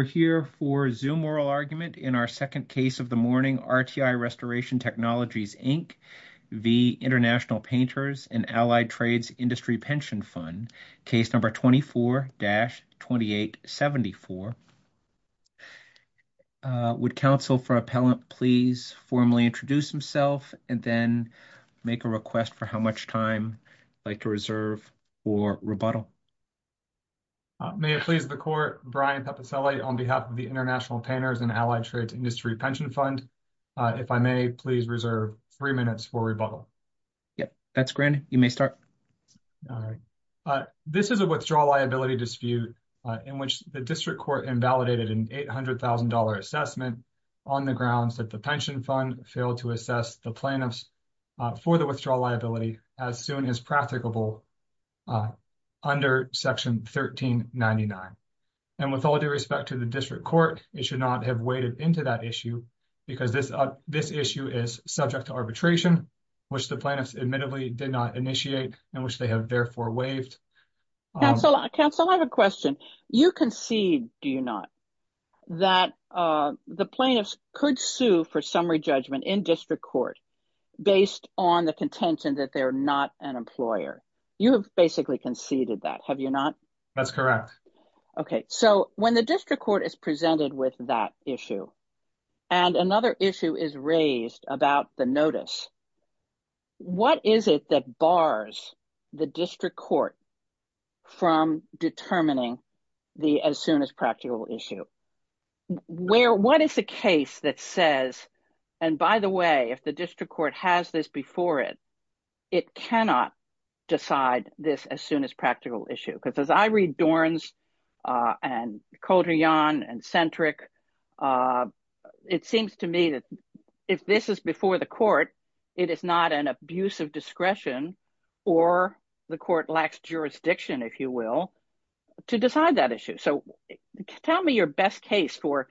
We're here for Zoom oral argument in our second case of the morning. RTI Restoration Technologies, Inc. v. Intl Painters and Allied Trades Industry Pension Fund, case number 24-2874. Would counsel for appellant please formally introduce himself and then make a request for how much time you'd like to reserve for rebuttal? May it please the court, Brian Pepicelli on behalf of the Intl Painters and Allied Trades Industry Pension Fund. If I may, please reserve three minutes for rebuttal. That's granted. You may start. This is a withdrawal liability dispute in which the district court invalidated an $800,000 assessment on the grounds that the pension fund failed to assess the plaintiffs for the withdrawal liability as soon as practicable under Section 1399. And with all due respect to the district court, it should not have waded into that issue because this issue is subject to arbitration, which the plaintiffs admittedly did not initiate and which they have therefore waived. Counsel, I have a question. You concede, do you not, that the plaintiffs could sue for summary judgment in district court based on the contention that they're not an employer? You have basically conceded that, have you not? That's correct. Okay. So when the district court is presented with that issue and another issue is raised about the notice, what is it that bars the district court from determining the as soon as practical issue? What is the case that says, and by the way, if the district court has this before it, it cannot decide this as soon as practical issue? Because as I read Dorns and Cotillon and Centric, it seems to me that if this is before the court, it is not an abuse of discretion or the court lacks jurisdiction, if you will, to decide that issue. So tell me your best case for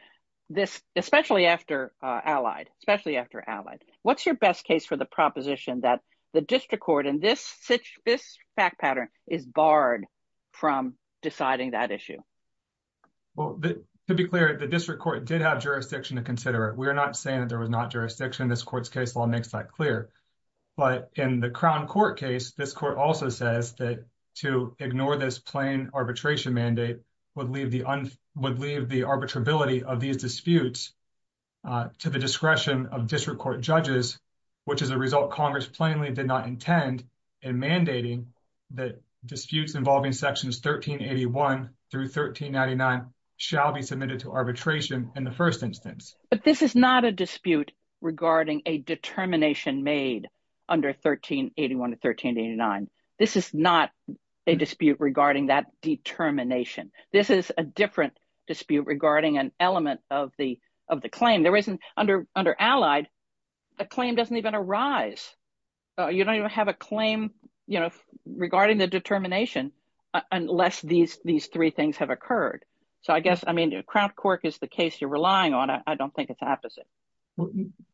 this, especially after Allied, especially after Allied. What's your best case for the proposition that the district court in this fact pattern is barred from deciding that issue? Well, to be clear, the district court did have jurisdiction to consider it. We're not saying that there was not jurisdiction. This court's case law makes that clear. But in the Crown Court case, this court also says that to ignore this plain arbitration mandate would leave the arbitrability of these disputes to the discretion of district court judges, which is a result Congress plainly did not intend in mandating that disputes involving sections 1381 through 1399 shall be submitted to arbitration in the first instance. But this is not a dispute regarding a determination made under 1381 to 1389. This is not a dispute regarding that determination. This is a different dispute regarding an element of the claim. Under Allied, the claim doesn't even arise. You don't even have a claim, you know, regarding the determination unless these three things have occurred. So I guess, I mean, Crown Court is the case you're relying on. I don't think it's the opposite.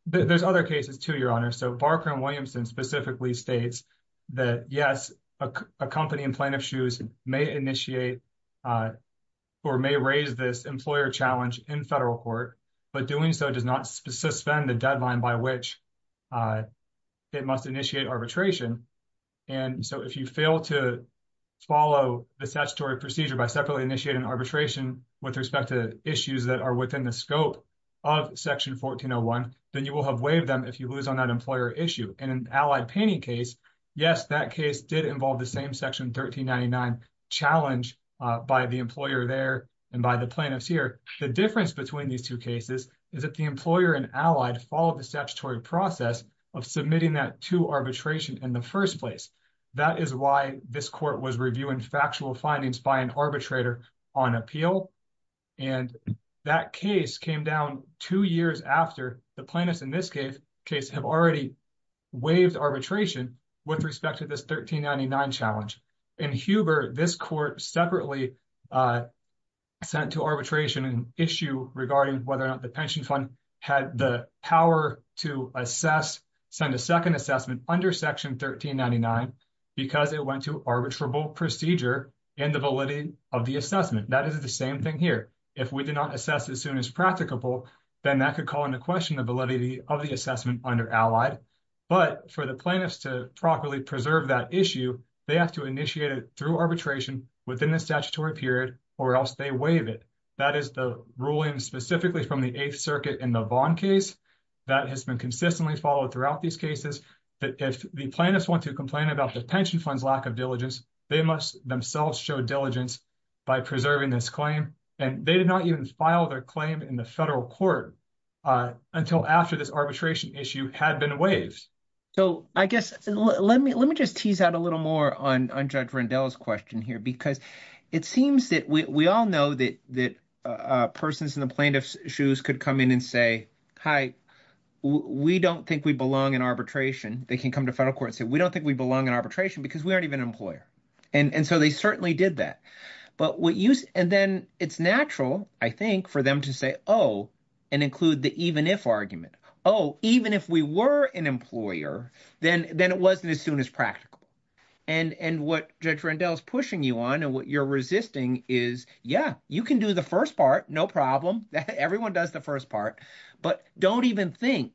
There's other cases to your honor. So Barker and Williamson specifically states that, yes, a company in plaintiff's shoes may initiate or may raise this employer challenge in federal court, but doing so does not suspend the deadline by which it must initiate arbitration. And so if you fail to follow the statutory procedure by separately initiating arbitration with respect to issues that are within the scope of section 1401, then you will have waived them if you lose on that employer issue. And in Allied Paney case, yes, that case did involve the same section 1399 challenge by the employer there and by the plaintiffs here. The difference between these two cases is that the employer in Allied followed the statutory process of submitting that to arbitration in the first place. That is why this court was reviewing factual findings by an arbitrator on appeal. And that case came down two years after the plaintiffs in this case have already waived arbitration with respect to this 1399 challenge. In Huber, this court separately sent to arbitration an issue regarding whether or not the pension fund had the power to assess, send a second assessment under section 1399 because it went to arbitrable procedure and the validity of the assessment. That is the same thing here. If we did not assess as soon as practicable, then that could call into question the validity of the assessment under Allied. But for the plaintiffs to properly preserve that issue, they have to initiate it through arbitration within the statutory period or else they waive it. That is the ruling specifically from the Eighth Circuit in the Vaughn case that has been consistently followed throughout these cases. But if the plaintiffs want to complain about the pension fund's lack of diligence, they must themselves show diligence by preserving this claim. And they did not even file their claim in the federal court until after this arbitration issue had been waived. So I guess let me just tease out a little more on Judge Rendell's question here because it seems that we all know that persons in the plaintiff's shoes could come in and say, hi, we don't think we belong in arbitration. They can come to federal court and say, we don't think we belong in arbitration because we aren't even an employer. And so they certainly did that. And then it's natural, I think, for them to say, oh, and include the even if argument. Oh, even if we were an employer, then it wasn't as soon as practical. And what Judge Rendell is pushing you on and what you're resisting is, yeah, you can do the first part, no problem. Everyone does the first part. But don't even think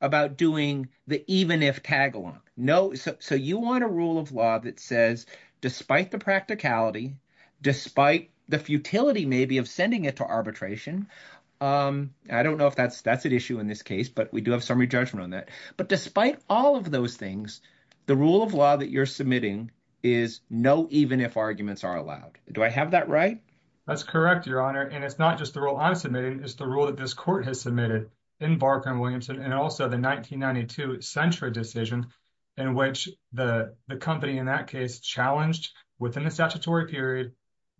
about doing the even if tagalong. No. So you want a rule of law that says despite the practicality, despite the futility maybe of sending it to arbitration. I don't know if that's an issue in this case, but we do have summary judgment on that. But despite all of those things, the rule of law that you're submitting is no even if arguments are allowed. Do I have that right? That's correct, Your Honor. And it's not just the rule I'm submitting. It's the rule that this court has submitted in Barker and Williamson and also the 1992 Centra decision in which the company in that case challenged within the statutory period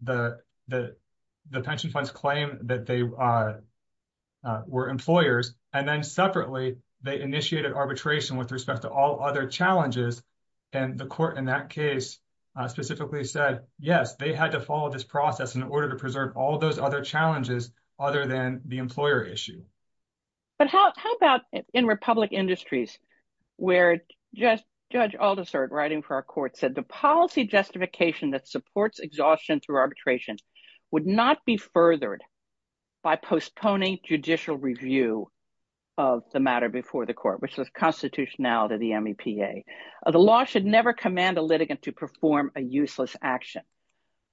that the pension funds claim that they were employers. And then separately, they initiated arbitration with respect to all other challenges. And the court in that case specifically said, yes, they had to follow this process in order to preserve all those other challenges other than the employer issue. But how about in Republic Industries, where Judge Aldisert writing for our court said the policy justification that supports exhaustion through arbitration would not be furthered by postponing judicial review of the matter before the court, which was constitutionality of the MEPA. The law should never command a litigant to perform a useless action.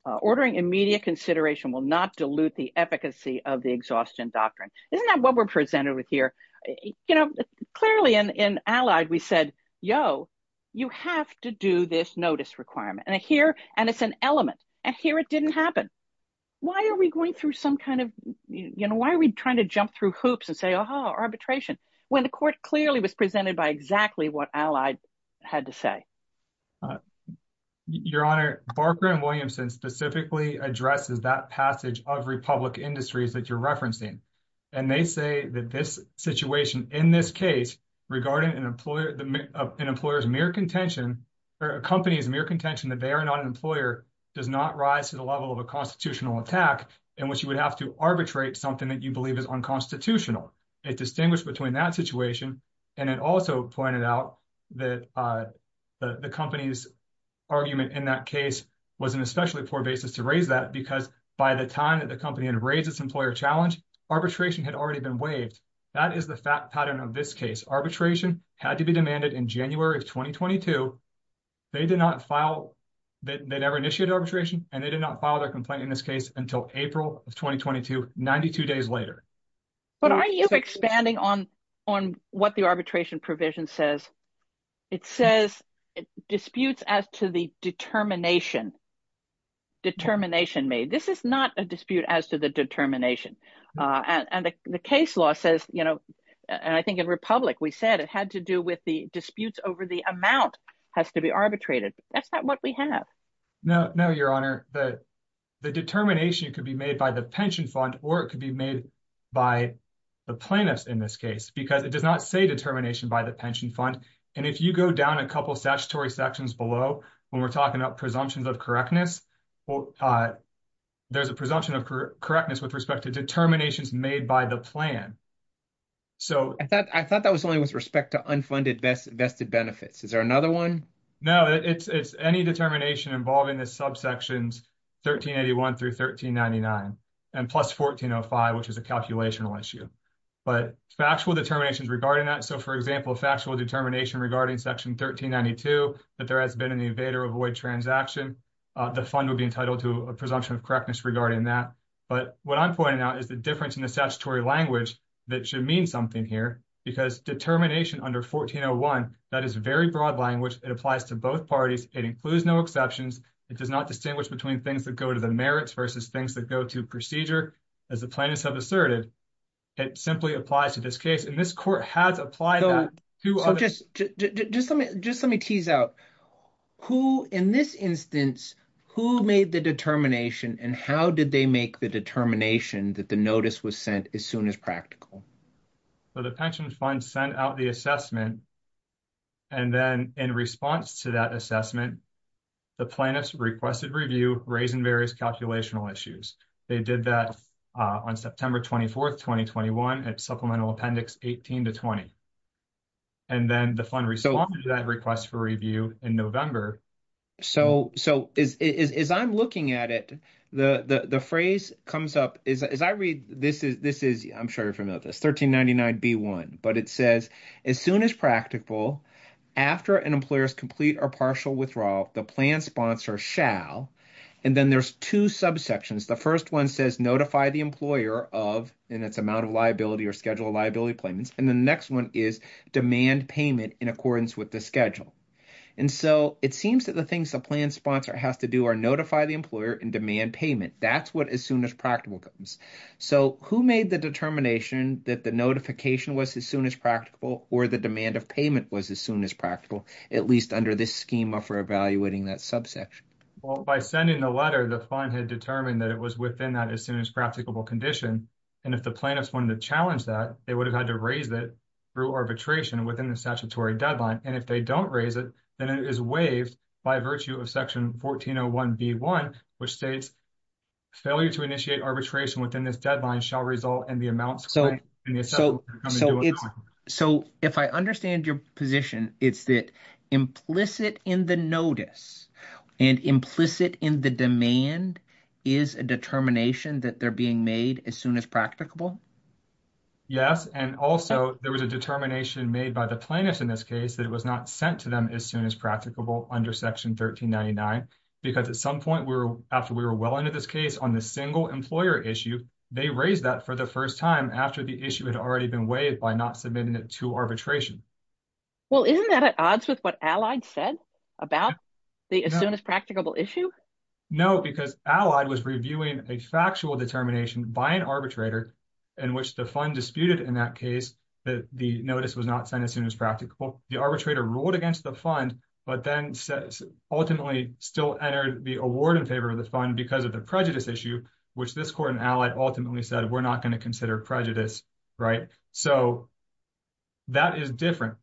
Ordering immediate consideration will not dilute the efficacy of the exhaustion doctrine. Isn't that what we're presented with here? You know, clearly in Allied, we said, yo, you have to do this notice requirement. And here, and it's an element. And here it didn't happen. Why are we going through some kind of, you know, why are we trying to jump through hoops and say, oh, arbitration, when the court clearly was presented by exactly what Allied had to say? Your Honor, Barker and Williamson specifically addresses that passage of Republic Industries that you're referencing. And they say that this situation in this case regarding an employer, an employer's mere contention or a company's mere contention that they are not an employer does not rise to the level of a constitutional attack in which you would have to arbitrate something that you believe is unconstitutional. It distinguished between that situation. And it also pointed out that the company's argument in that case was an especially poor basis to raise that because by the time that the company had raised its employer challenge, arbitration had already been waived. That is the fact pattern of this case. Arbitration had to be demanded in January of 2022. They did not file, they never initiated arbitration, and they did not file their complaint in this case until April of 2022, 92 days later. Can you expand on what the arbitration provision says? It says disputes as to the determination, determination made. This is not a dispute as to the determination. And the case law says, you know, and I think in Republic we said it had to do with the disputes over the amount has to be arbitrated. That's not what we have. No, no, Your Honor. The determination could be made by the pension fund or it could be made by the plaintiffs in this case because it does not say determination by the pension fund. And if you go down a couple of statutory sections below when we're talking about presumptions of correctness, there's a presumption of correctness with respect to determinations made by the plan. I thought that was only with respect to unfunded vested benefits. Is there another one? No, it's any determination involving the subsections 1381 through 1399 and plus 1405, which is a calculational issue, but factual determinations regarding that. But what I'm pointing out is the difference in the statutory language that should mean something here because determination under 1401, that is very broad language. It applies to both parties. It includes no exceptions. It does not distinguish between things that go to the merits versus things that go to procedure as the plaintiffs have asserted. It simply applies to this case in this court has applied to just just let me just let me tease out who in this instance, who made the determination and how did they make the determination that the notice was sent as soon as practical. So the pension fund sent out the assessment. And then in response to that assessment, the plaintiffs requested review raising various calculational issues. They did that on September 24th, 2021 at supplemental appendix 18 to 20. And then the fund responded to that request for review in November. So, so as I'm looking at it, the phrase comes up as I read this is this is I'm sure you're familiar with this 1399 B1, but it says as soon as practical after an employer's complete or partial withdrawal, the plan sponsor shall. And then there's 2 subsections. The 1st 1 says notify the employer of in its amount of liability or schedule liability payments. And the next 1 is demand payment in accordance with the schedule. And so it seems that the things the plan sponsor has to do are notify the employer and demand payment. That's what as soon as practical comes. So, who made the determination that the notification was as soon as practical, or the demand of payment was as soon as practical, at least under this schema for evaluating that subsection by sending the letter, the fund had determined that it was within that as soon as practical condition. And if the plaintiffs wanted to challenge that, they would have had to raise it through arbitration within the statutory deadline. And if they don't raise it, then it is waived by virtue of section 1401 B1, which states. Failure to initiate arbitration within this deadline shall result in the amount. So, so, so it's so if I understand your position, it's that implicit in the notice. And implicit in the demand is a determination that they're being made as soon as practicable. Yes, and also there was a determination made by the plaintiffs in this case that it was not sent to them as soon as practicable under section 1399, because at some point, we're after we were well into this case on the single employer issue. They raised that for the 1st time after the issue had already been waived by not submitting it to arbitration. Well, isn't that at odds with what Allied said about the as soon as practicable issue? No, because Allied was reviewing a factual determination by an arbitrator in which the fund disputed in that case that the notice was not sent as soon as practical. Well, the arbitrator ruled against the fund, but then ultimately still entered the award in favor of the fund because of the prejudice issue, which this court and Allied ultimately said, we're not going to consider prejudice. Right. So that is different.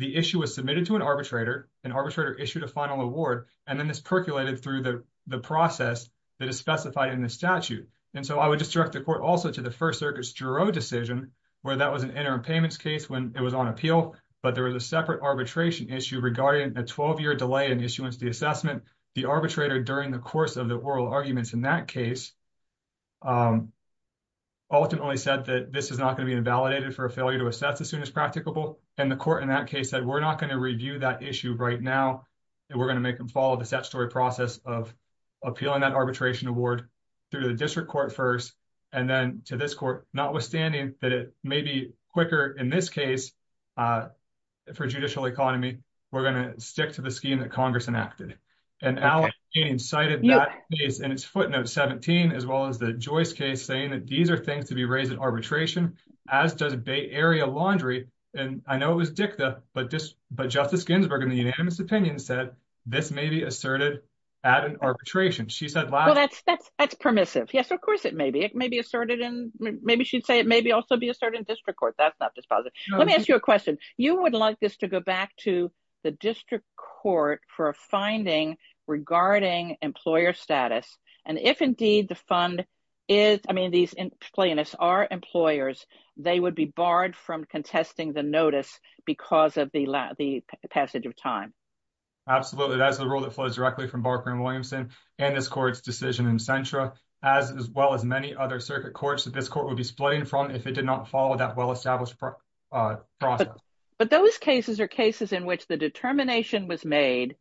The issue was submitted to an arbitrator, an arbitrator issued a final award, and then this percolated through the process that is specified in the statute. And so I would just direct the court also to the First Circuit's juror decision where that was an interim payments case when it was on appeal, but there was a separate arbitration issue regarding a 12-year delay in issuance of the assessment. The arbitrator during the course of the oral arguments in that case ultimately said that this is not going to be invalidated for a failure to assess as soon as practicable. And the court in that case said, we're not going to review that issue right now. We're going to make them follow the statutory process of appealing that arbitration award through the district court first, and then to this court, notwithstanding that it may be quicker in this case for judicial economy, we're going to stick to the scheme that Congress enacted. And Alex Janning cited that case in its footnote 17, as well as the Joyce case, saying that these are things to be raised in arbitration, as does Bay Area Laundry. And I know it was dicta, but Justice Ginsburg, in the unanimous opinion, said this may be asserted at an arbitration. She said, well, that's that's that's permissive. Yes, of course, it may be. It may be asserted. And maybe she'd say it may be also be a certain district court. That's not dispositive. Let me ask you a question. You would like this to go back to the district court for a finding regarding employer status. And if indeed the fund is, I mean, these plaintiffs are employers, they would be barred from contesting the notice because of the passage of time. Absolutely. That's the rule that flows directly from Barker and Williamson and this court's decision in Centra, as well as many other circuit courts that this court would be splitting from if it did not follow that well-established process. But those cases are cases in which the determination was made.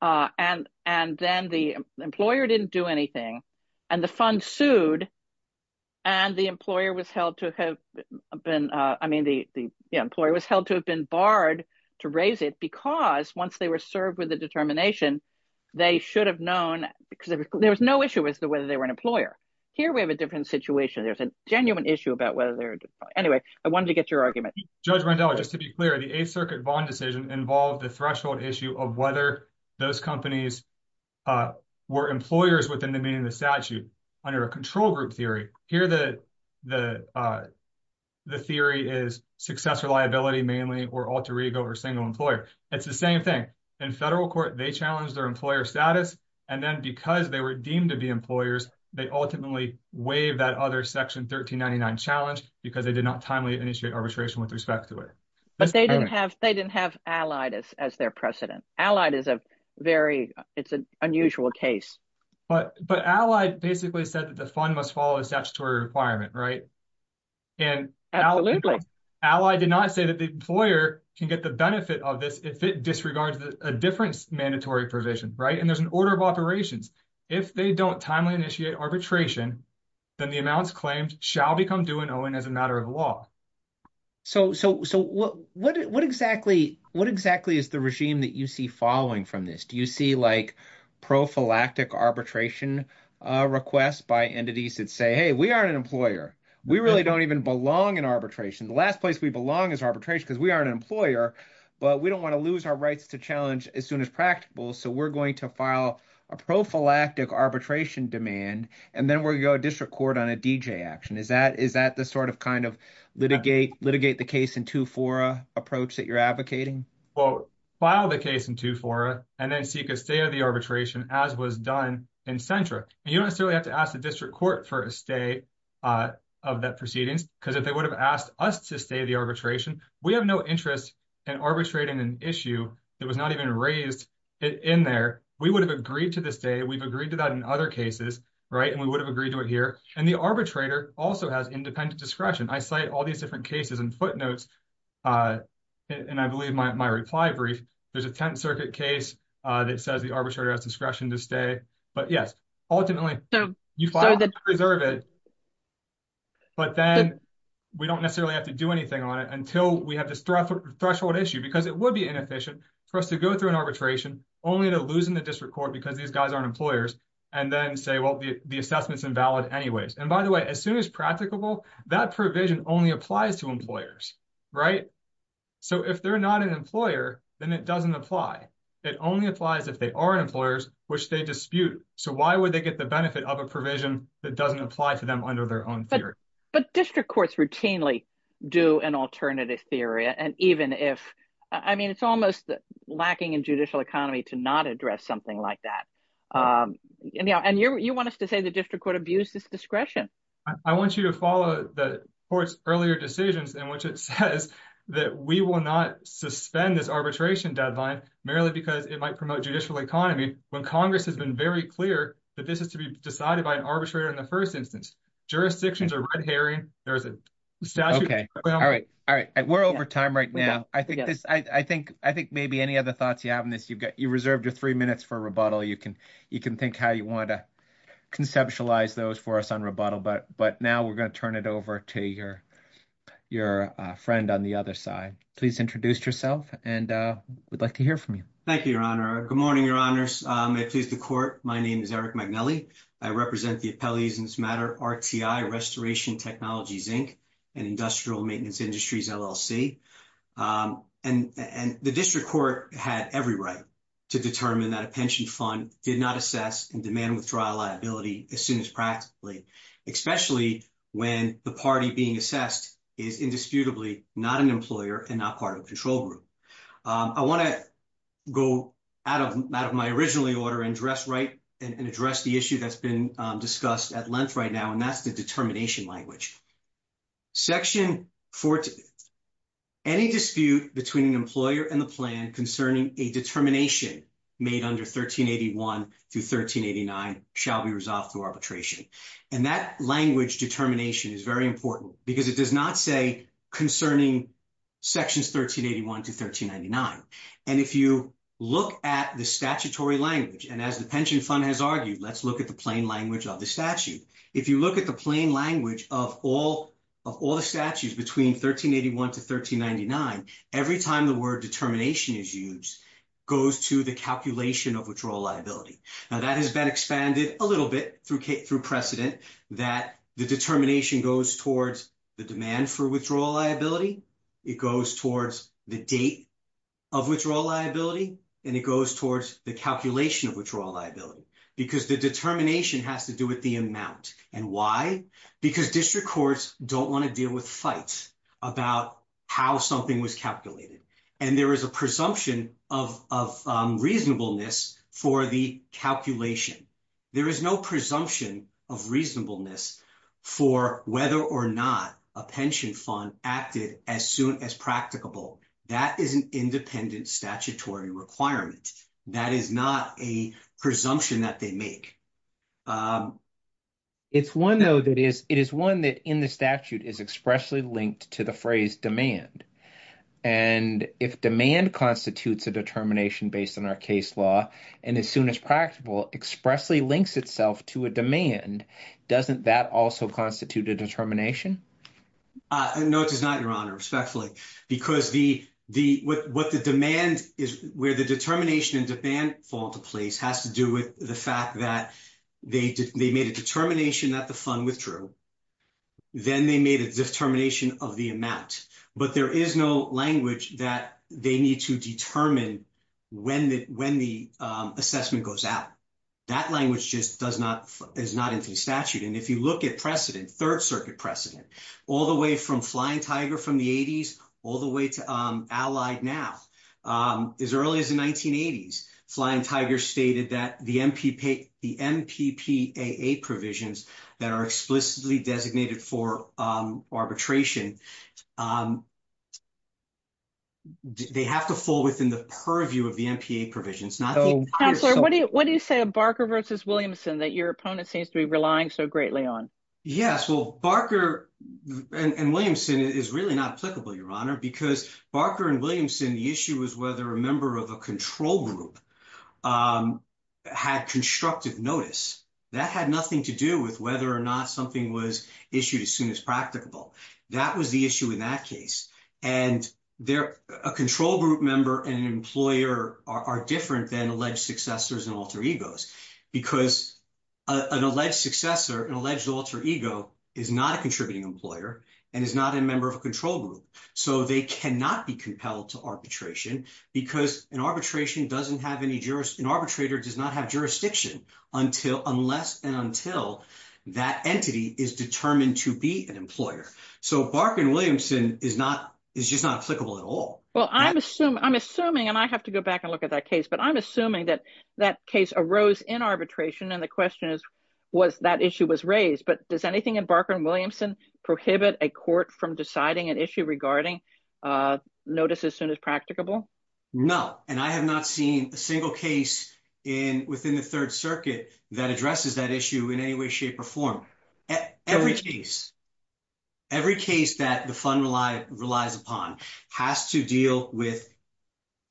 And and then the employer didn't do anything. And the fund sued. And the employer was held to have been, I mean, the employer was held to have been barred to raise it because once they were served with the determination, they should have known because there was no issue as to whether they were an employer. So here we have a different situation. There's a genuine issue about whether. Anyway, I wanted to get your argument. Judge Randall, just to be clear, the Eighth Circuit bond decision involved the threshold issue of whether those companies were employers within the meaning of the statute under a control group theory. Here, the theory is successor liability mainly or alter ego or single employer. It's the same thing. In federal court, they challenged their employer status. And then because they were deemed to be employers, they ultimately waived that other section 1399 challenge because they did not timely initiate arbitration with respect to it. But they didn't have they didn't have allied as their precedent. Allied is a very it's an unusual case. But but Allied basically said that the fund must follow a statutory requirement. Right. And Allied did not say that the employer can get the benefit of this if it disregards a different mandatory provision. Right. And there's an order of operations. If they don't timely initiate arbitration, then the amounts claimed shall become due and owing as a matter of law. So so so what what what exactly what exactly is the regime that you see following from this? Do you see like prophylactic arbitration requests by entities that say, hey, we aren't an employer. We really don't even belong in arbitration. The last place we belong is arbitration because we are an employer. But we don't want to lose our rights to challenge as soon as practical. So we're going to file a prophylactic arbitration demand. And then we go to district court on a D.J. action. Is that is that the sort of kind of litigate litigate the case in two for a approach that you're advocating? Well, file the case in two for and then seek a stay of the arbitration, as was done in Central. You don't necessarily have to ask the district court for a stay of that proceedings, because if they would have asked us to stay the arbitration, we have no interest in arbitrating an issue that was not even raised in there. We would have agreed to this day. We've agreed to that in other cases. Right. And we would have agreed to it here. And the arbitrator also has independent discretion. I cite all these different cases and footnotes. And I believe my reply brief, there's a 10th Circuit case that says the arbitrator has discretion to stay. But, yes, ultimately, you find that reserve it. But then we don't necessarily have to do anything on it until we have this threshold issue, because it would be inefficient for us to go through an arbitration only to lose in the district court because these guys aren't employers and then say, well, the assessment's invalid anyways. And by the way, as soon as practicable, that provision only applies to employers. Right. So if they're not an employer, then it doesn't apply. It only applies if they are employers, which they dispute. So why would they get the benefit of a provision that doesn't apply to them under their own theory? But district courts routinely do an alternative theory. And even if I mean, it's almost lacking in judicial economy to not address something like that. And you want us to say the district court abuses discretion. I want you to follow the court's earlier decisions in which it says that we will not suspend this arbitration deadline merely because it might promote judicial economy when Congress has been very clear that this is to be decided by an arbitrator in the first instance. Jurisdictions are red herring. There's a statute. Okay. All right. All right. We're over time right now. I think this I think I think maybe any other thoughts you have on this. You've got you reserved your 3 minutes for rebuttal. You can, you can think how you want to conceptualize those for us on rebuttal. But but now we're going to turn it over to your, your friend on the other side, please introduce yourself and we'd like to hear from you. Thank you. Your honor. Good morning. Your honors. Please the court. My name is Eric. I represent the appellees in this matter. RTI restoration technologies, Inc. and industrial maintenance industries LLC. And the district court had every right to determine that a pension fund did not assess and demand withdrawal liability as soon as practically, especially when the party being assessed is indisputably not an employer and not part of control group. I want to go out of my originally order and dress right and address the issue that's been discussed at length right now. And that's the determination language. Section 14, any dispute between an employer and the plan concerning a determination made under 1381 to 1389 shall be resolved through arbitration. And that language determination is very important because it does not say concerning sections 1381 to 1399. And if you look at the statutory language, and as the pension fund has argued, let's look at the plain language of the statute. If you look at the plain language of all of all the statutes between 1381 to 1399, every time the word determination is used goes to the calculation of withdrawal liability. Now that has been expanded a little bit through precedent that the determination goes towards the demand for withdrawal liability. It goes towards the date of withdrawal liability, and it goes towards the calculation of withdrawal liability, because the determination has to do with the amount. And why? Because district courts don't want to deal with fights about how something was calculated. And there is a presumption of reasonableness for the calculation. There is no presumption of reasonableness for whether or not a pension fund acted as soon as practicable. That is an independent statutory requirement. That is not a presumption that they make. It's 1, though, that is it is 1 that in the statute is expressly linked to the phrase demand. And if demand constitutes a determination based on our case law, and as soon as practical expressly links itself to a demand, doesn't that also constitute a determination? No, it does not, Your Honor, respectfully, because what the demand is, where the determination and demand fall into place has to do with the fact that they made a determination that the fund withdrew. Then they made a determination of the amount, but there is no language that they need to determine when the assessment goes out. That language just does not, is not in statute. And if you look at precedent, Third Circuit precedent, all the way from Flying Tiger from the 80s, all the way to Allied now. As early as the 1980s, Flying Tiger stated that the MPPAA provisions that are explicitly designated for arbitration. They have to fall within the purview of the MPPAA provisions. Counselor, what do you say a Barker versus Williamson that your opponent seems to be relying so greatly on? Yes, well, Barker and Williamson is really not applicable, Your Honor, because Barker and Williamson, the issue is whether a member of a control group had constructive notice. That had nothing to do with whether or not something was issued as soon as practicable. That was the issue in that case. And they're a control group member and an employer are different than alleged successors and alter egos, because an alleged successor, an alleged alter ego is not a contributing employer and is not a member of a control group. So they cannot be compelled to arbitration because an arbitration doesn't have any juris, an arbitrator does not have jurisdiction until, unless and until that entity is determined to be an employer. So Barker and Williamson is not, is just not applicable at all. Well, I'm assuming I'm assuming and I have to go back and look at that case, but I'm assuming that that case arose in arbitration. And the question is, was that issue was raised. But does anything in Barker and Williamson prohibit a court from deciding an issue regarding notice as soon as practicable? No, and I have not seen a single case in within the third circuit that addresses that issue in any way, shape or form. Every case, every case that the fund relies upon has to deal with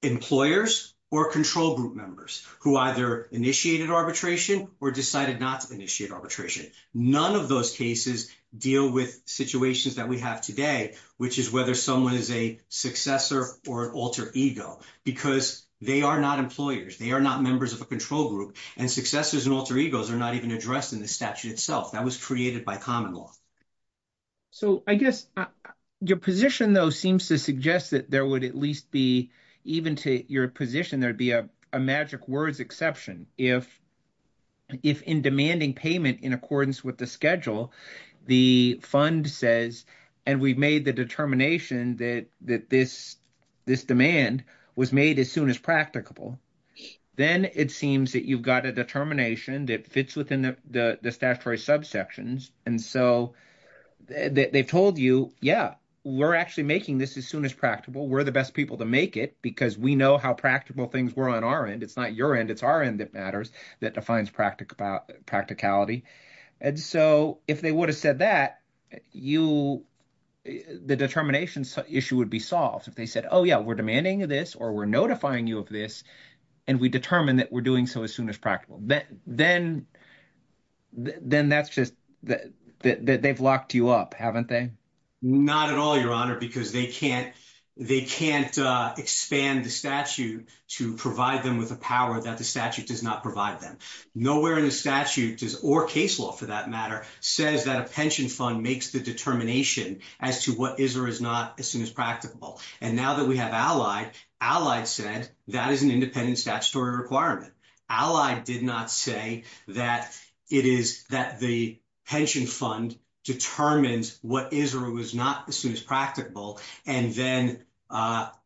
employers or control group members who either initiated arbitration or decided not to initiate arbitration. None of those cases deal with situations that we have today, which is whether someone is a successor or alter ego, because they are not employers. They are not members of a control group and successors and alter egos are not even addressed in the statute itself. That was created by common law. So I guess your position, though, seems to suggest that there would at least be even to your position, there'd be a magic words exception if. If in demanding payment in accordance with the schedule, the fund says, and we've made the determination that that this this demand was made as soon as practicable. Then it seems that you've got a determination that fits within the statutory subsections. And so they've told you, yeah, we're actually making this as soon as practicable. We're the best people to make it because we know how practical things were on our end. It's not your end. It's our end that matters. Practicality. And so if they would have said that you the determination issue would be solved if they said, oh, yeah, we're demanding this or we're notifying you of this and we determine that we're doing so as soon as practical. Then then that's just that they've locked you up, haven't they? Not at all, your honor, because they can't they can't expand the statute to provide them with a power that the statute does not provide them. Nowhere in the statute does or case law, for that matter, says that a pension fund makes the determination as to what is or is not as soon as practicable. And now that we have allied allied said that is an independent statutory requirement. Allied did not say that it is that the pension fund determines what is or was not as soon as practicable. And then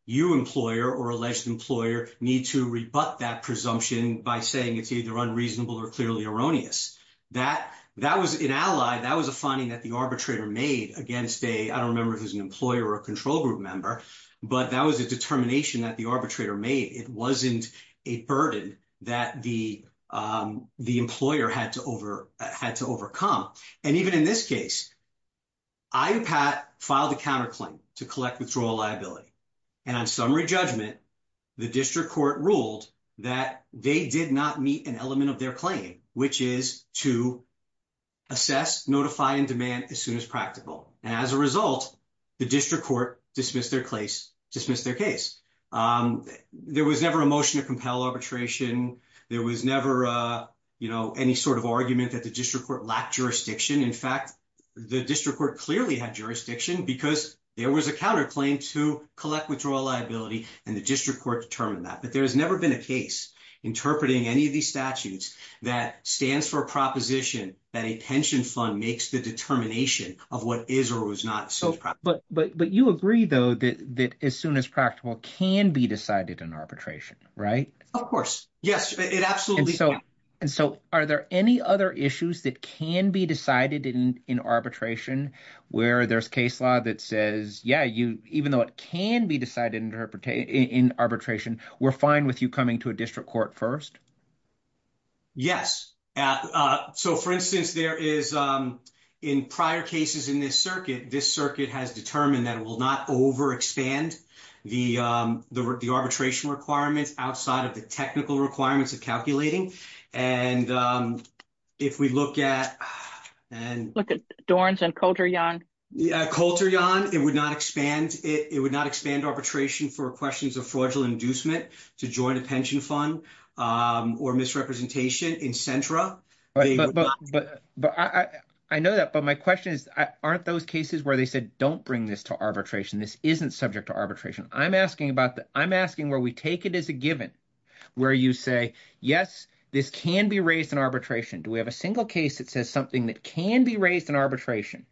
you employer or alleged employer need to rebut that presumption by saying it's either unreasonable or clearly erroneous. That that was an ally. That was a finding that the arbitrator made against a I don't remember if there's an employer or a control group member, but that was a determination that the arbitrator made. It wasn't a burden that the the employer had to over had to overcome. And even in this case, I Pat filed a counterclaim to collect withdrawal liability. And on summary judgment, the district court ruled that they did not meet an element of their claim, which is to assess, notify and demand as soon as practical. And as a result, the district court dismissed their case, dismissed their case. There was never a motion to compel arbitration. There was never any sort of argument that the district court lack jurisdiction. In fact, the district court clearly had jurisdiction because there was a counterclaim to collect withdrawal liability and the district court determined that. But there has never been a case interpreting any of these statutes that stands for a proposition that a pension fund makes the determination of what is or was not. So but but but you agree, though, that that as soon as practical can be decided in arbitration. Right. Of course. Yes, it absolutely. So and so are there any other issues that can be decided in arbitration where there's case law that says, yeah, you even though it can be decided interpretation in arbitration, we're fine with you coming to a district court first. Yes. So, for instance, there is in prior cases in this circuit, this circuit has determined that it will not overexpand the the arbitration requirements outside of the technical requirements of calculating. And if we look at and look at Dorans and culture young culture, John, it would not expand. It would not expand arbitration for questions of fraudulent inducement to join a pension fund or misrepresentation in central. But I know that, but my question is, aren't those cases where they said, don't bring this to arbitration? This isn't subject to arbitration. I'm asking where we take it as a given where you say, yes, this can be raised in arbitration. Do we have a single case that says something that can be raised in arbitration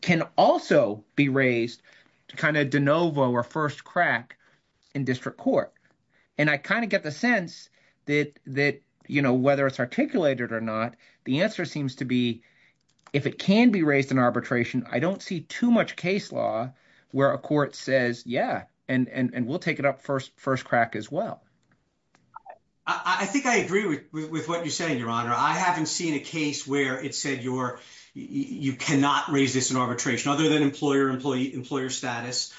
can also be raised to kind of de novo or first crack in district court? And I kind of get the sense that that, you know, whether it's articulated or not, the answer seems to be, if it can be raised in arbitration, I don't see too much case law where a court says, yeah, and we'll take it up first first crack as well. I think I agree with what you're saying, your honor. I haven't seen a case where it said you're you cannot raise this in arbitration other than employer employee employer status.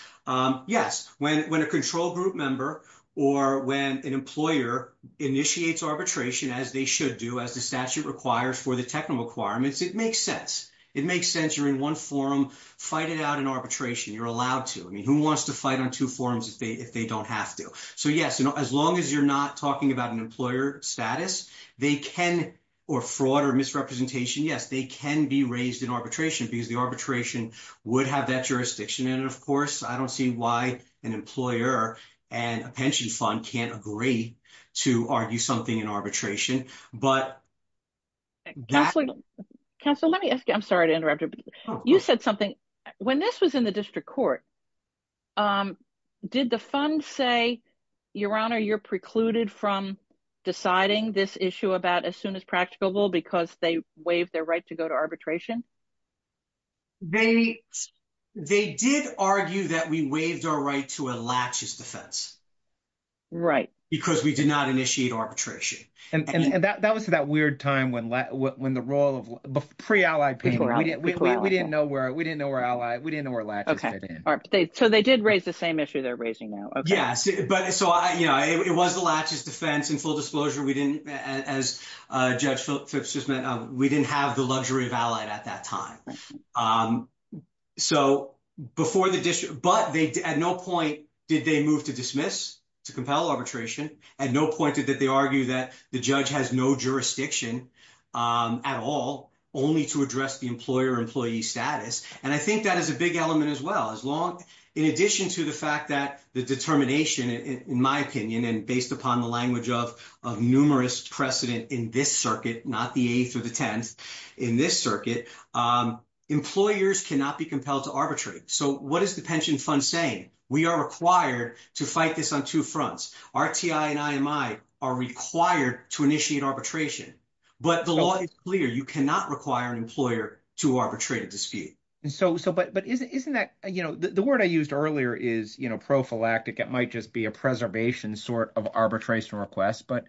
Yes, when when a control group member, or when an employer initiates arbitration as they should do as the statute requires for the technical requirements. It makes sense. You're in one forum, fight it out in arbitration, you're allowed to I mean, who wants to fight on two forums if they if they don't have to. So, yes, as long as you're not talking about an employer status, they can or fraud or misrepresentation. Yes, they can be raised in arbitration because the arbitration would have that jurisdiction. And of course, I don't see why an employer and a pension fund can't agree to argue something in arbitration. Council, let me ask you, I'm sorry to interrupt you said something. When this was in the district court. Did the fund say, Your Honor, you're precluded from deciding this issue about as soon as practical because they waive their right to go to arbitration. They, they did argue that we waived our right to a latches defense. Right, because we did not initiate arbitration. And that was that weird time when when the role of pre allied. We didn't know where we didn't know where we didn't know where latches came in. So they did raise the same issue they're raising now. Yes, but so I, you know, it was the latches defense in full disclosure. We didn't as Judge Phipps just meant we didn't have the luxury of allied at that time. So, before the district, but they at no point. Did they move to dismiss to compel arbitration and no pointed that they argue that the judge has no jurisdiction. At all, only to address the employer employee status. And I think that is a big element as well as long in addition to the fact that the determination, in my opinion, and based upon the language of of numerous precedent in this circuit, not the eighth or the 10th in this circuit. Employers cannot be compelled to arbitrate. So, what is the pension fund saying? We are required to fight this on 2 fronts are required to initiate arbitration, but the law is clear. You cannot require an employer to arbitrate a dispute. So, but isn't that the word I used earlier is prophylactic. It might just be a preservation sort of arbitration request, but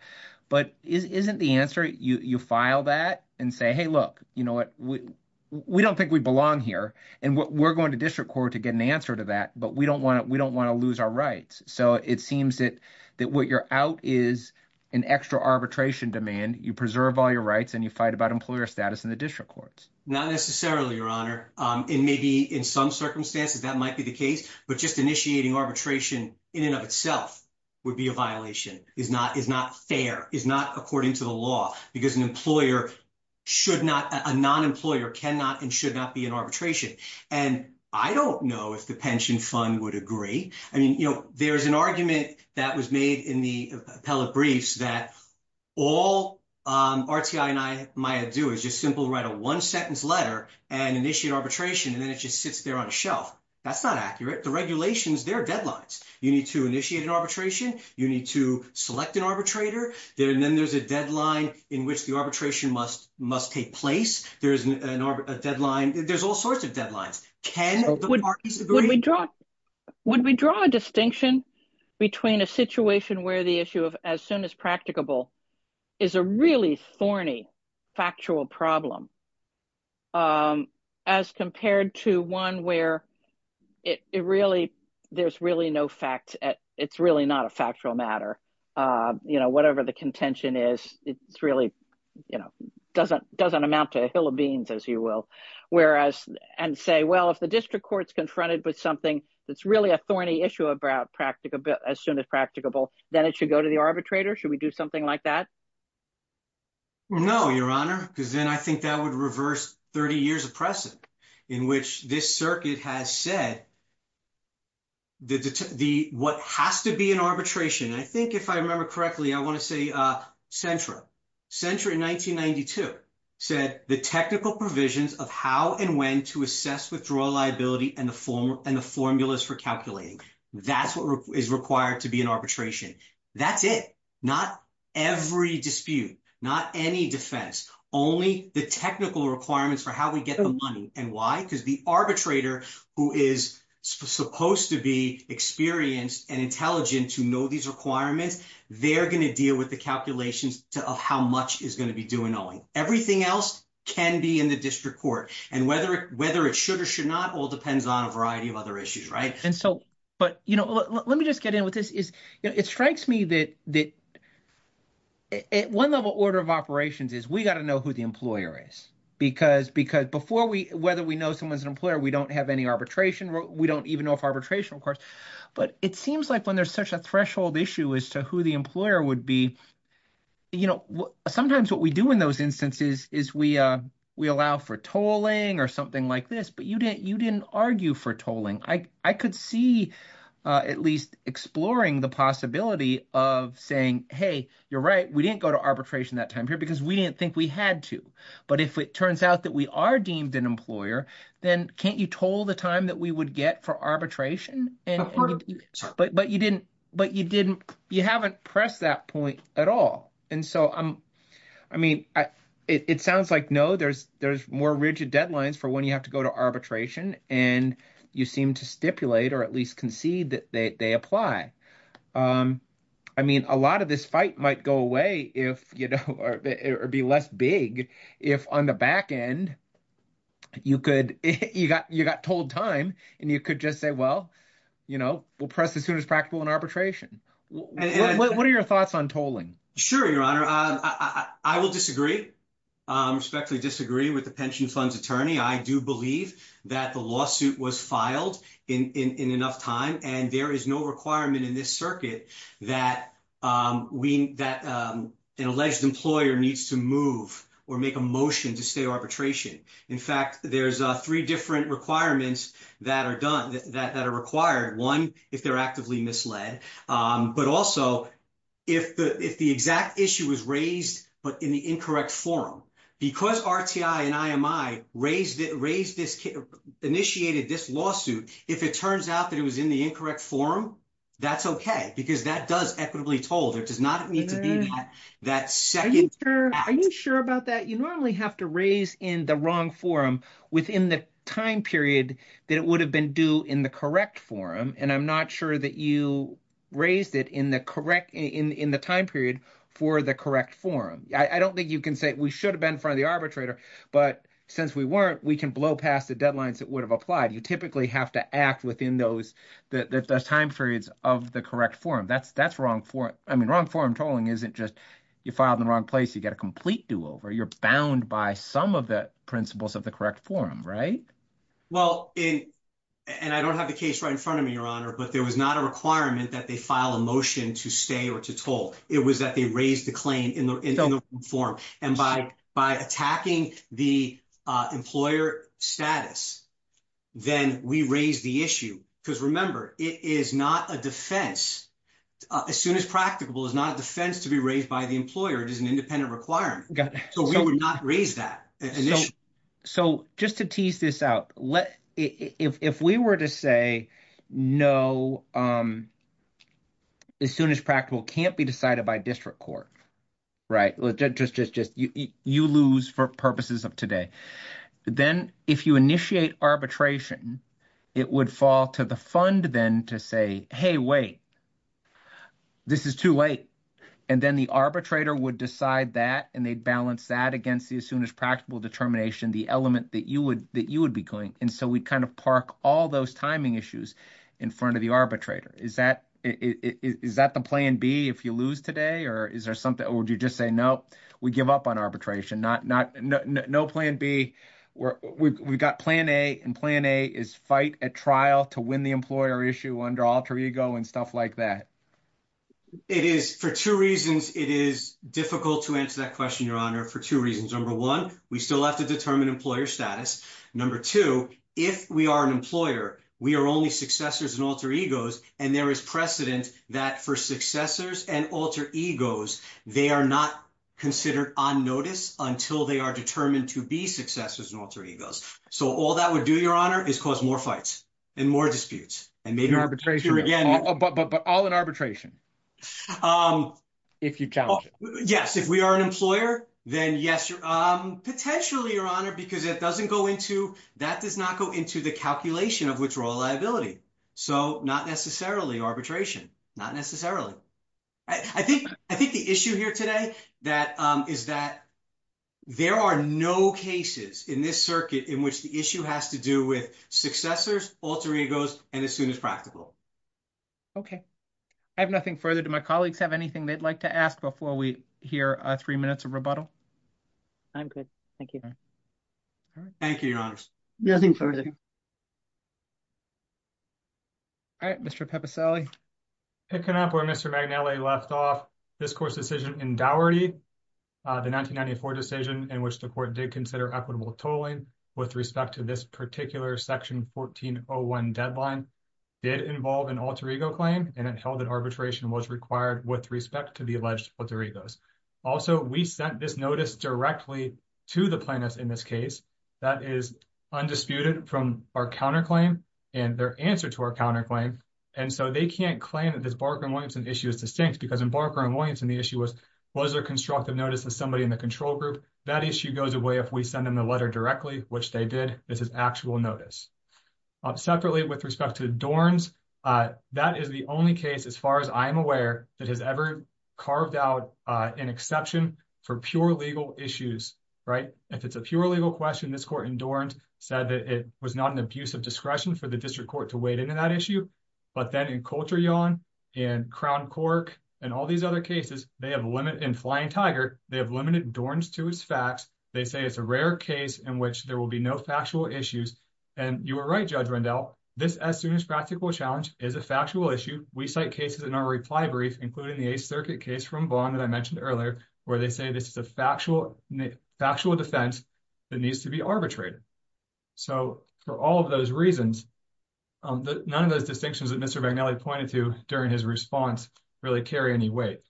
but isn't the answer you file that and say, hey, look, you know what? We don't think we belong here and we're going to district court to get an answer to that, but we don't want it. We don't want to lose our rights. So it seems that that what you're out is an extra arbitration demand. You preserve all your rights and you fight about employer status in the district courts. Not necessarily your honor in maybe in some circumstances that might be the case, but just initiating arbitration in and of itself would be a violation is not is not fair is not according to the law, because an employer should not a non employer cannot and should not be an arbitration. And I don't know if the pension fund would agree. I mean, you know, there's an argument that was made in the appellate briefs that all and I do is just simple write a 1 sentence letter and initiate arbitration and then it just sits there on a shelf. That's not accurate. The regulations, their deadlines. You need to initiate an arbitration. You need to select an arbitrator there. And then there's a deadline in which the arbitration must must take place. There is an deadline. There's all sorts of deadlines. Can we draw? Would we draw a distinction between a situation where the issue of as soon as practicable is a really thorny factual problem. As compared to one where it really, there's really no fact at it's really not a factual matter, you know, whatever the contention is, it's really, you know, doesn't doesn't amount to a hill of beans, as you will. Whereas, and say, well, if the district courts confronted with something that's really a thorny issue about practical as soon as practicable, then it should go to the arbitrator should we do something like that. No, Your Honor, because then I think that would reverse 30 years of precedent in which this circuit has said. The, the, what has to be an arbitration, I think, if I remember correctly, I want to say central central in 1992 said the technical provisions of how and when to assess withdrawal liability and the form and the formulas for calculating. That's what is required to be an arbitration. That's it. Not every dispute, not any defense, only the technical requirements for how we get the money and why because the arbitrator who is supposed to be experienced and intelligent to know these requirements. They're going to deal with the calculations of how much is going to be doing knowing everything else can be in the district court and whether whether it should or should not all depends on a variety of other issues. Right? And so, but, you know, let me just get in with this is it strikes me that that. At 1 level order of operations is we got to know who the employer is, because because before we, whether we know someone's an employer, we don't have any arbitration. We don't even know if arbitration, of course, but it seems like when there's such a threshold issue as to who the employer would be. You know, sometimes what we do in those instances is we, we allow for tolling or something like this, but you didn't you didn't argue for tolling. I could see at least exploring the possibility of saying, hey, you're right. We didn't go to arbitration that time here because we didn't think we had to. But if it turns out that we are deemed an employer, then can't you told the time that we would get for arbitration and but, but you didn't, but you didn't you haven't pressed that point at all. And so I'm, I mean, it sounds like, no, there's, there's more rigid deadlines for when you have to go to arbitration and you seem to stipulate, or at least concede that they apply. I mean, a lot of this fight might go away if, you know, or be less big. If on the back end, you could, you got you got told time and you could just say, well, you know, we'll press as soon as practical and arbitration. What are your thoughts on tolling? Sure, your honor. I will disagree. I respectfully disagree with the pension funds attorney. I do believe that the lawsuit was filed in enough time and there is no requirement in this circuit that we that an alleged employer needs to move or make a motion to stay arbitration. In fact, there's 3 different requirements that are done that are required. 1, if they're actively misled, but also. If the, if the exact issue was raised, but in the incorrect forum, because and raised it raised this initiated this lawsuit, if it turns out that it was in the incorrect forum. That's OK, because that does equitably told it does not need to be that second. Are you sure about that? You normally have to raise in the wrong forum within the time period that it would have been due in the correct forum. And I'm not sure that you raised it in the correct in the time period for the correct forum. I don't think you can say we should have been front of the arbitrator, but since we weren't, we can blow past the deadlines that would have applied. You typically have to act within those time periods of the correct forum. That's that's wrong for it. I mean, wrong forum tolling isn't just you filed in the wrong place. You get a complete do over. You're bound by some of the principles of the correct forum. Right? Well, in, and I don't have the case right in front of me, your honor, but there was not a requirement that they file a motion to stay or to toll. It was that they raised the claim in the forum and by by attacking the employer status. Then we raise the issue because remember, it is not a defense. As soon as practicable is not a defense to be raised by the employer. It is an independent requirement. So, we would not raise that. So, just to tease this out, if we were to say, no, as soon as practical can't be decided by district court. Right, well, just just just you lose for purposes of today, then if you initiate arbitration, it would fall to the fund then to say, hey, wait. This is too late and then the arbitrator would decide that and they'd balance that against the as soon as practical determination, the element that you would that you would be going. And so we kind of park all those timing issues in front of the arbitrator. Is that is that the plan B if you lose today or is there something or would you just say, no, we give up on arbitration. Not not no plan B. We've got plan A and plan A is fight at trial to win the employer issue under alter ego and stuff like that. It is for two reasons. It is difficult to answer that question. Your honor for two reasons. Number one, we still have to determine employer status. Number two, if we are an employer, we are only successors and alter egos. And there is precedent that for successors and alter egos, they are not considered on notice until they are determined to be successors and alter egos. So all that would do your honor is cause more fights and more disputes and maybe arbitration again, but but but all in arbitration. If you tell us, yes, if we are an employer, then yes, you're potentially your honor because it doesn't go into that does not go into the calculation of which role liability. So not necessarily arbitration, not necessarily. I think I think the issue here today that is that there are no cases in this circuit in which the issue has to do with successors, alter egos, and as soon as practical. Okay, I have nothing further to my colleagues have anything they'd like to ask before we hear three minutes of rebuttal. I'm good. Thank you. Thank you. Nothing further. All right, Mr pepper Sally. Picking up where Mr McNally left off this course decision in dowry. The 1994 decision in which the court did consider equitable tolling with respect to this particular section 1401 deadline did involve an alter ego claim and it held that arbitration was required with respect to the alleged alter egos. Also, we sent this notice directly to the plaintiffs in this case, that is undisputed from our counterclaim, and their answer to our counterclaim. And so they can't claim that this Barker and Williamson issue is distinct because in Barker and Williamson the issue was, was there constructive notice to somebody in the control group, that issue goes away if we send them a letter directly, which they did. This is actual notice. Separately with respect to the dorms. That is the only case as far as I'm aware, that has ever carved out an exception for pure legal issues, right, if it's a pure legal question this court in dorms said that it was not an abuse of discretion for the district court to wade into that issue. But then in culture yawn and crown cork, and all these other cases, they have limit in flying tiger, they have limited dorms to his facts, they say it's a rare case in which there will be no factual issues. And you were right judge Randall, this as soon as practical challenge is a factual issue, we cite cases in our reply brief, including the circuit case from bond that I mentioned earlier, where they say this is a factual, factual defense that needs to be arbitrated. So, for all of those reasons. None of those distinctions that Mr McNally pointed to during his response, really carry any weight.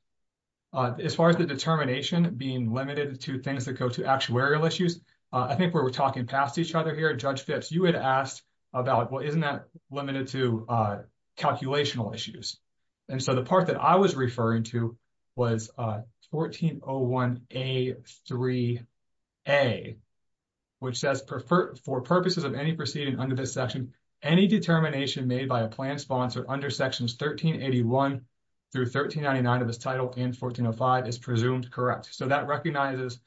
As far as the determination being limited to things that go to actuarial issues. I think we're talking past each other here judge fits you had asked about what isn't that limited to calculational issues. And so the part that I was referring to was 1401, a three, a, which says prefer for purposes of any proceeding under this section, any determination made by a plan sponsor under sections 1381 through 1399 of his title in 1405 is presumed correct so that recognizes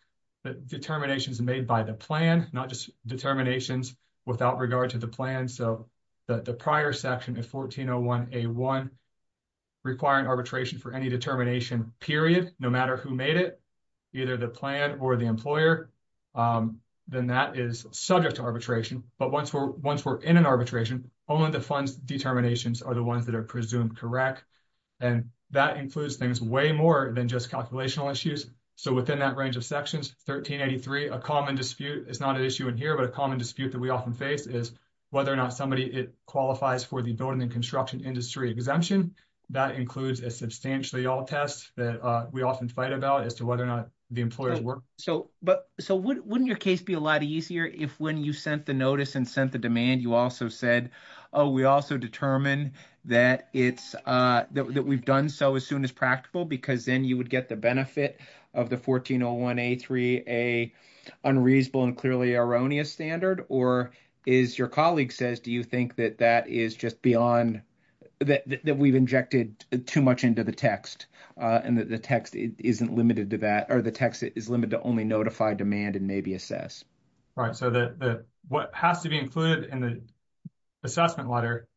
that determinations made by the plan, not just determinations, without regard to the plan so that the prior section of 1401, a one. Requiring arbitration for any determination period, no matter who made it either the plan or the employer, then that is subject to arbitration, but once we're once we're in an arbitration, only the funds determinations are the ones that are presumed correct. And that includes things way more than just calculational issues. So, within that range of sections, 1383, a common dispute is not an issue in here, but a common dispute that we often face is whether or not somebody qualifies for the building and construction industry exemption. That includes a substantially all tests that we often fight about as to whether or not the employers work. So, but so wouldn't your case be a lot easier if when you sent the notice and sent the demand you also said, oh, we also determine that it's. Uh, that we've done so as soon as practical, because then you would get the benefit of the 1401, a 3, a unreasonable and clearly erroneous standard, or is your colleague says, do you think that that is just beyond. That we've injected too much into the text, and the text isn't limited to that, or the text is limited to only notify demand and maybe assess. Right, so that what has to be included in the assessment letter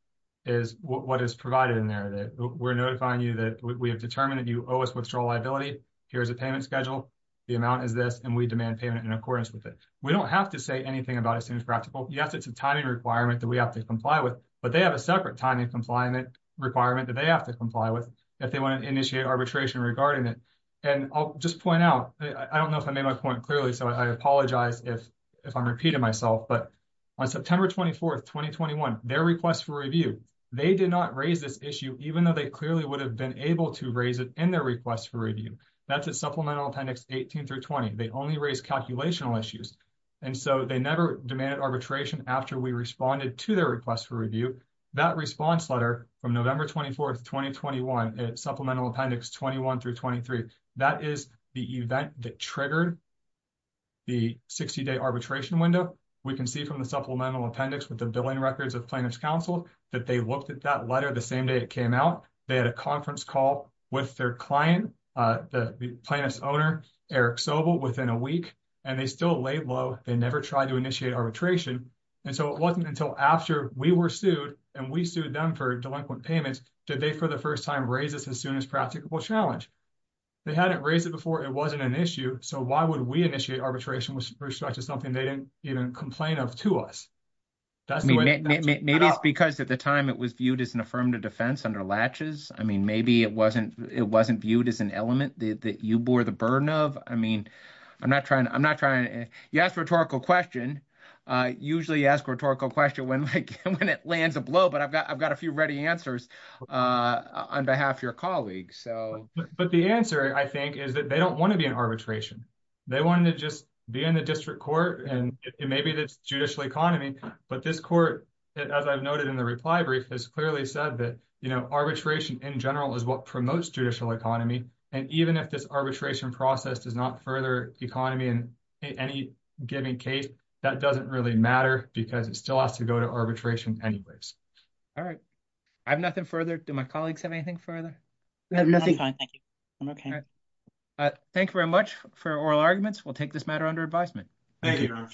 is what is provided in there that we're notifying you that we have determined that you owe us withdrawal liability. Here's a payment schedule. The amount is this and we demand payment in accordance with it. We don't have to say anything about as soon as practical. Yes, it's a timing requirement that we have to comply with, but they have a separate time and compliant requirement that they have to comply with. If they want to initiate arbitration regarding it, and I'll just point out, I don't know if I made my point clearly, so I apologize if if I'm repeating myself, but on September 24th 2021 their request for review. They did not raise this issue, even though they clearly would have been able to raise it in their request for review. That's a supplemental appendix 18 through 20 they only raise calculational issues. And so they never demanded arbitration after we responded to their request for review that response letter from November 24th 2021 supplemental appendix 21 through 23. That is the event that triggered the 60 day arbitration window. We can see from the supplemental appendix with the billing records of plaintiff's counsel that they looked at that letter the same day it came out. They had a conference call with their client, the plaintiff's owner, Eric Sobel, within a week, and they still laid low. They never tried to initiate arbitration. And so it wasn't until after we were sued, and we sued them for delinquent payments, did they for the first time raise this as soon as practical challenge. They hadn't raised it before, it wasn't an issue, so why would we initiate arbitration with respect to something they didn't even complain of to us? Maybe it's because at the time it was viewed as an affirmative defense under latches. I mean, maybe it wasn't, it wasn't viewed as an element that you bore the burden of. I mean, I'm not trying, I'm not trying. Yes, rhetorical question. Usually ask rhetorical question when it lands a blow, but I've got, I've got a few ready answers on behalf of your colleagues. But the answer, I think, is that they don't want to be in arbitration. They wanted to just be in the district court, and it may be the judicial economy, but this court, as I've noted in the reply brief, has clearly said that, you know, arbitration in general is what promotes judicial economy. And even if this arbitration process does not further economy in any given case, that doesn't really matter because it still has to go to arbitration anyways. All right. I have nothing further. Do my colleagues have anything further? Nothing. I'm okay. Thank you very much for oral arguments. We'll take this matter under advisement. Thank you.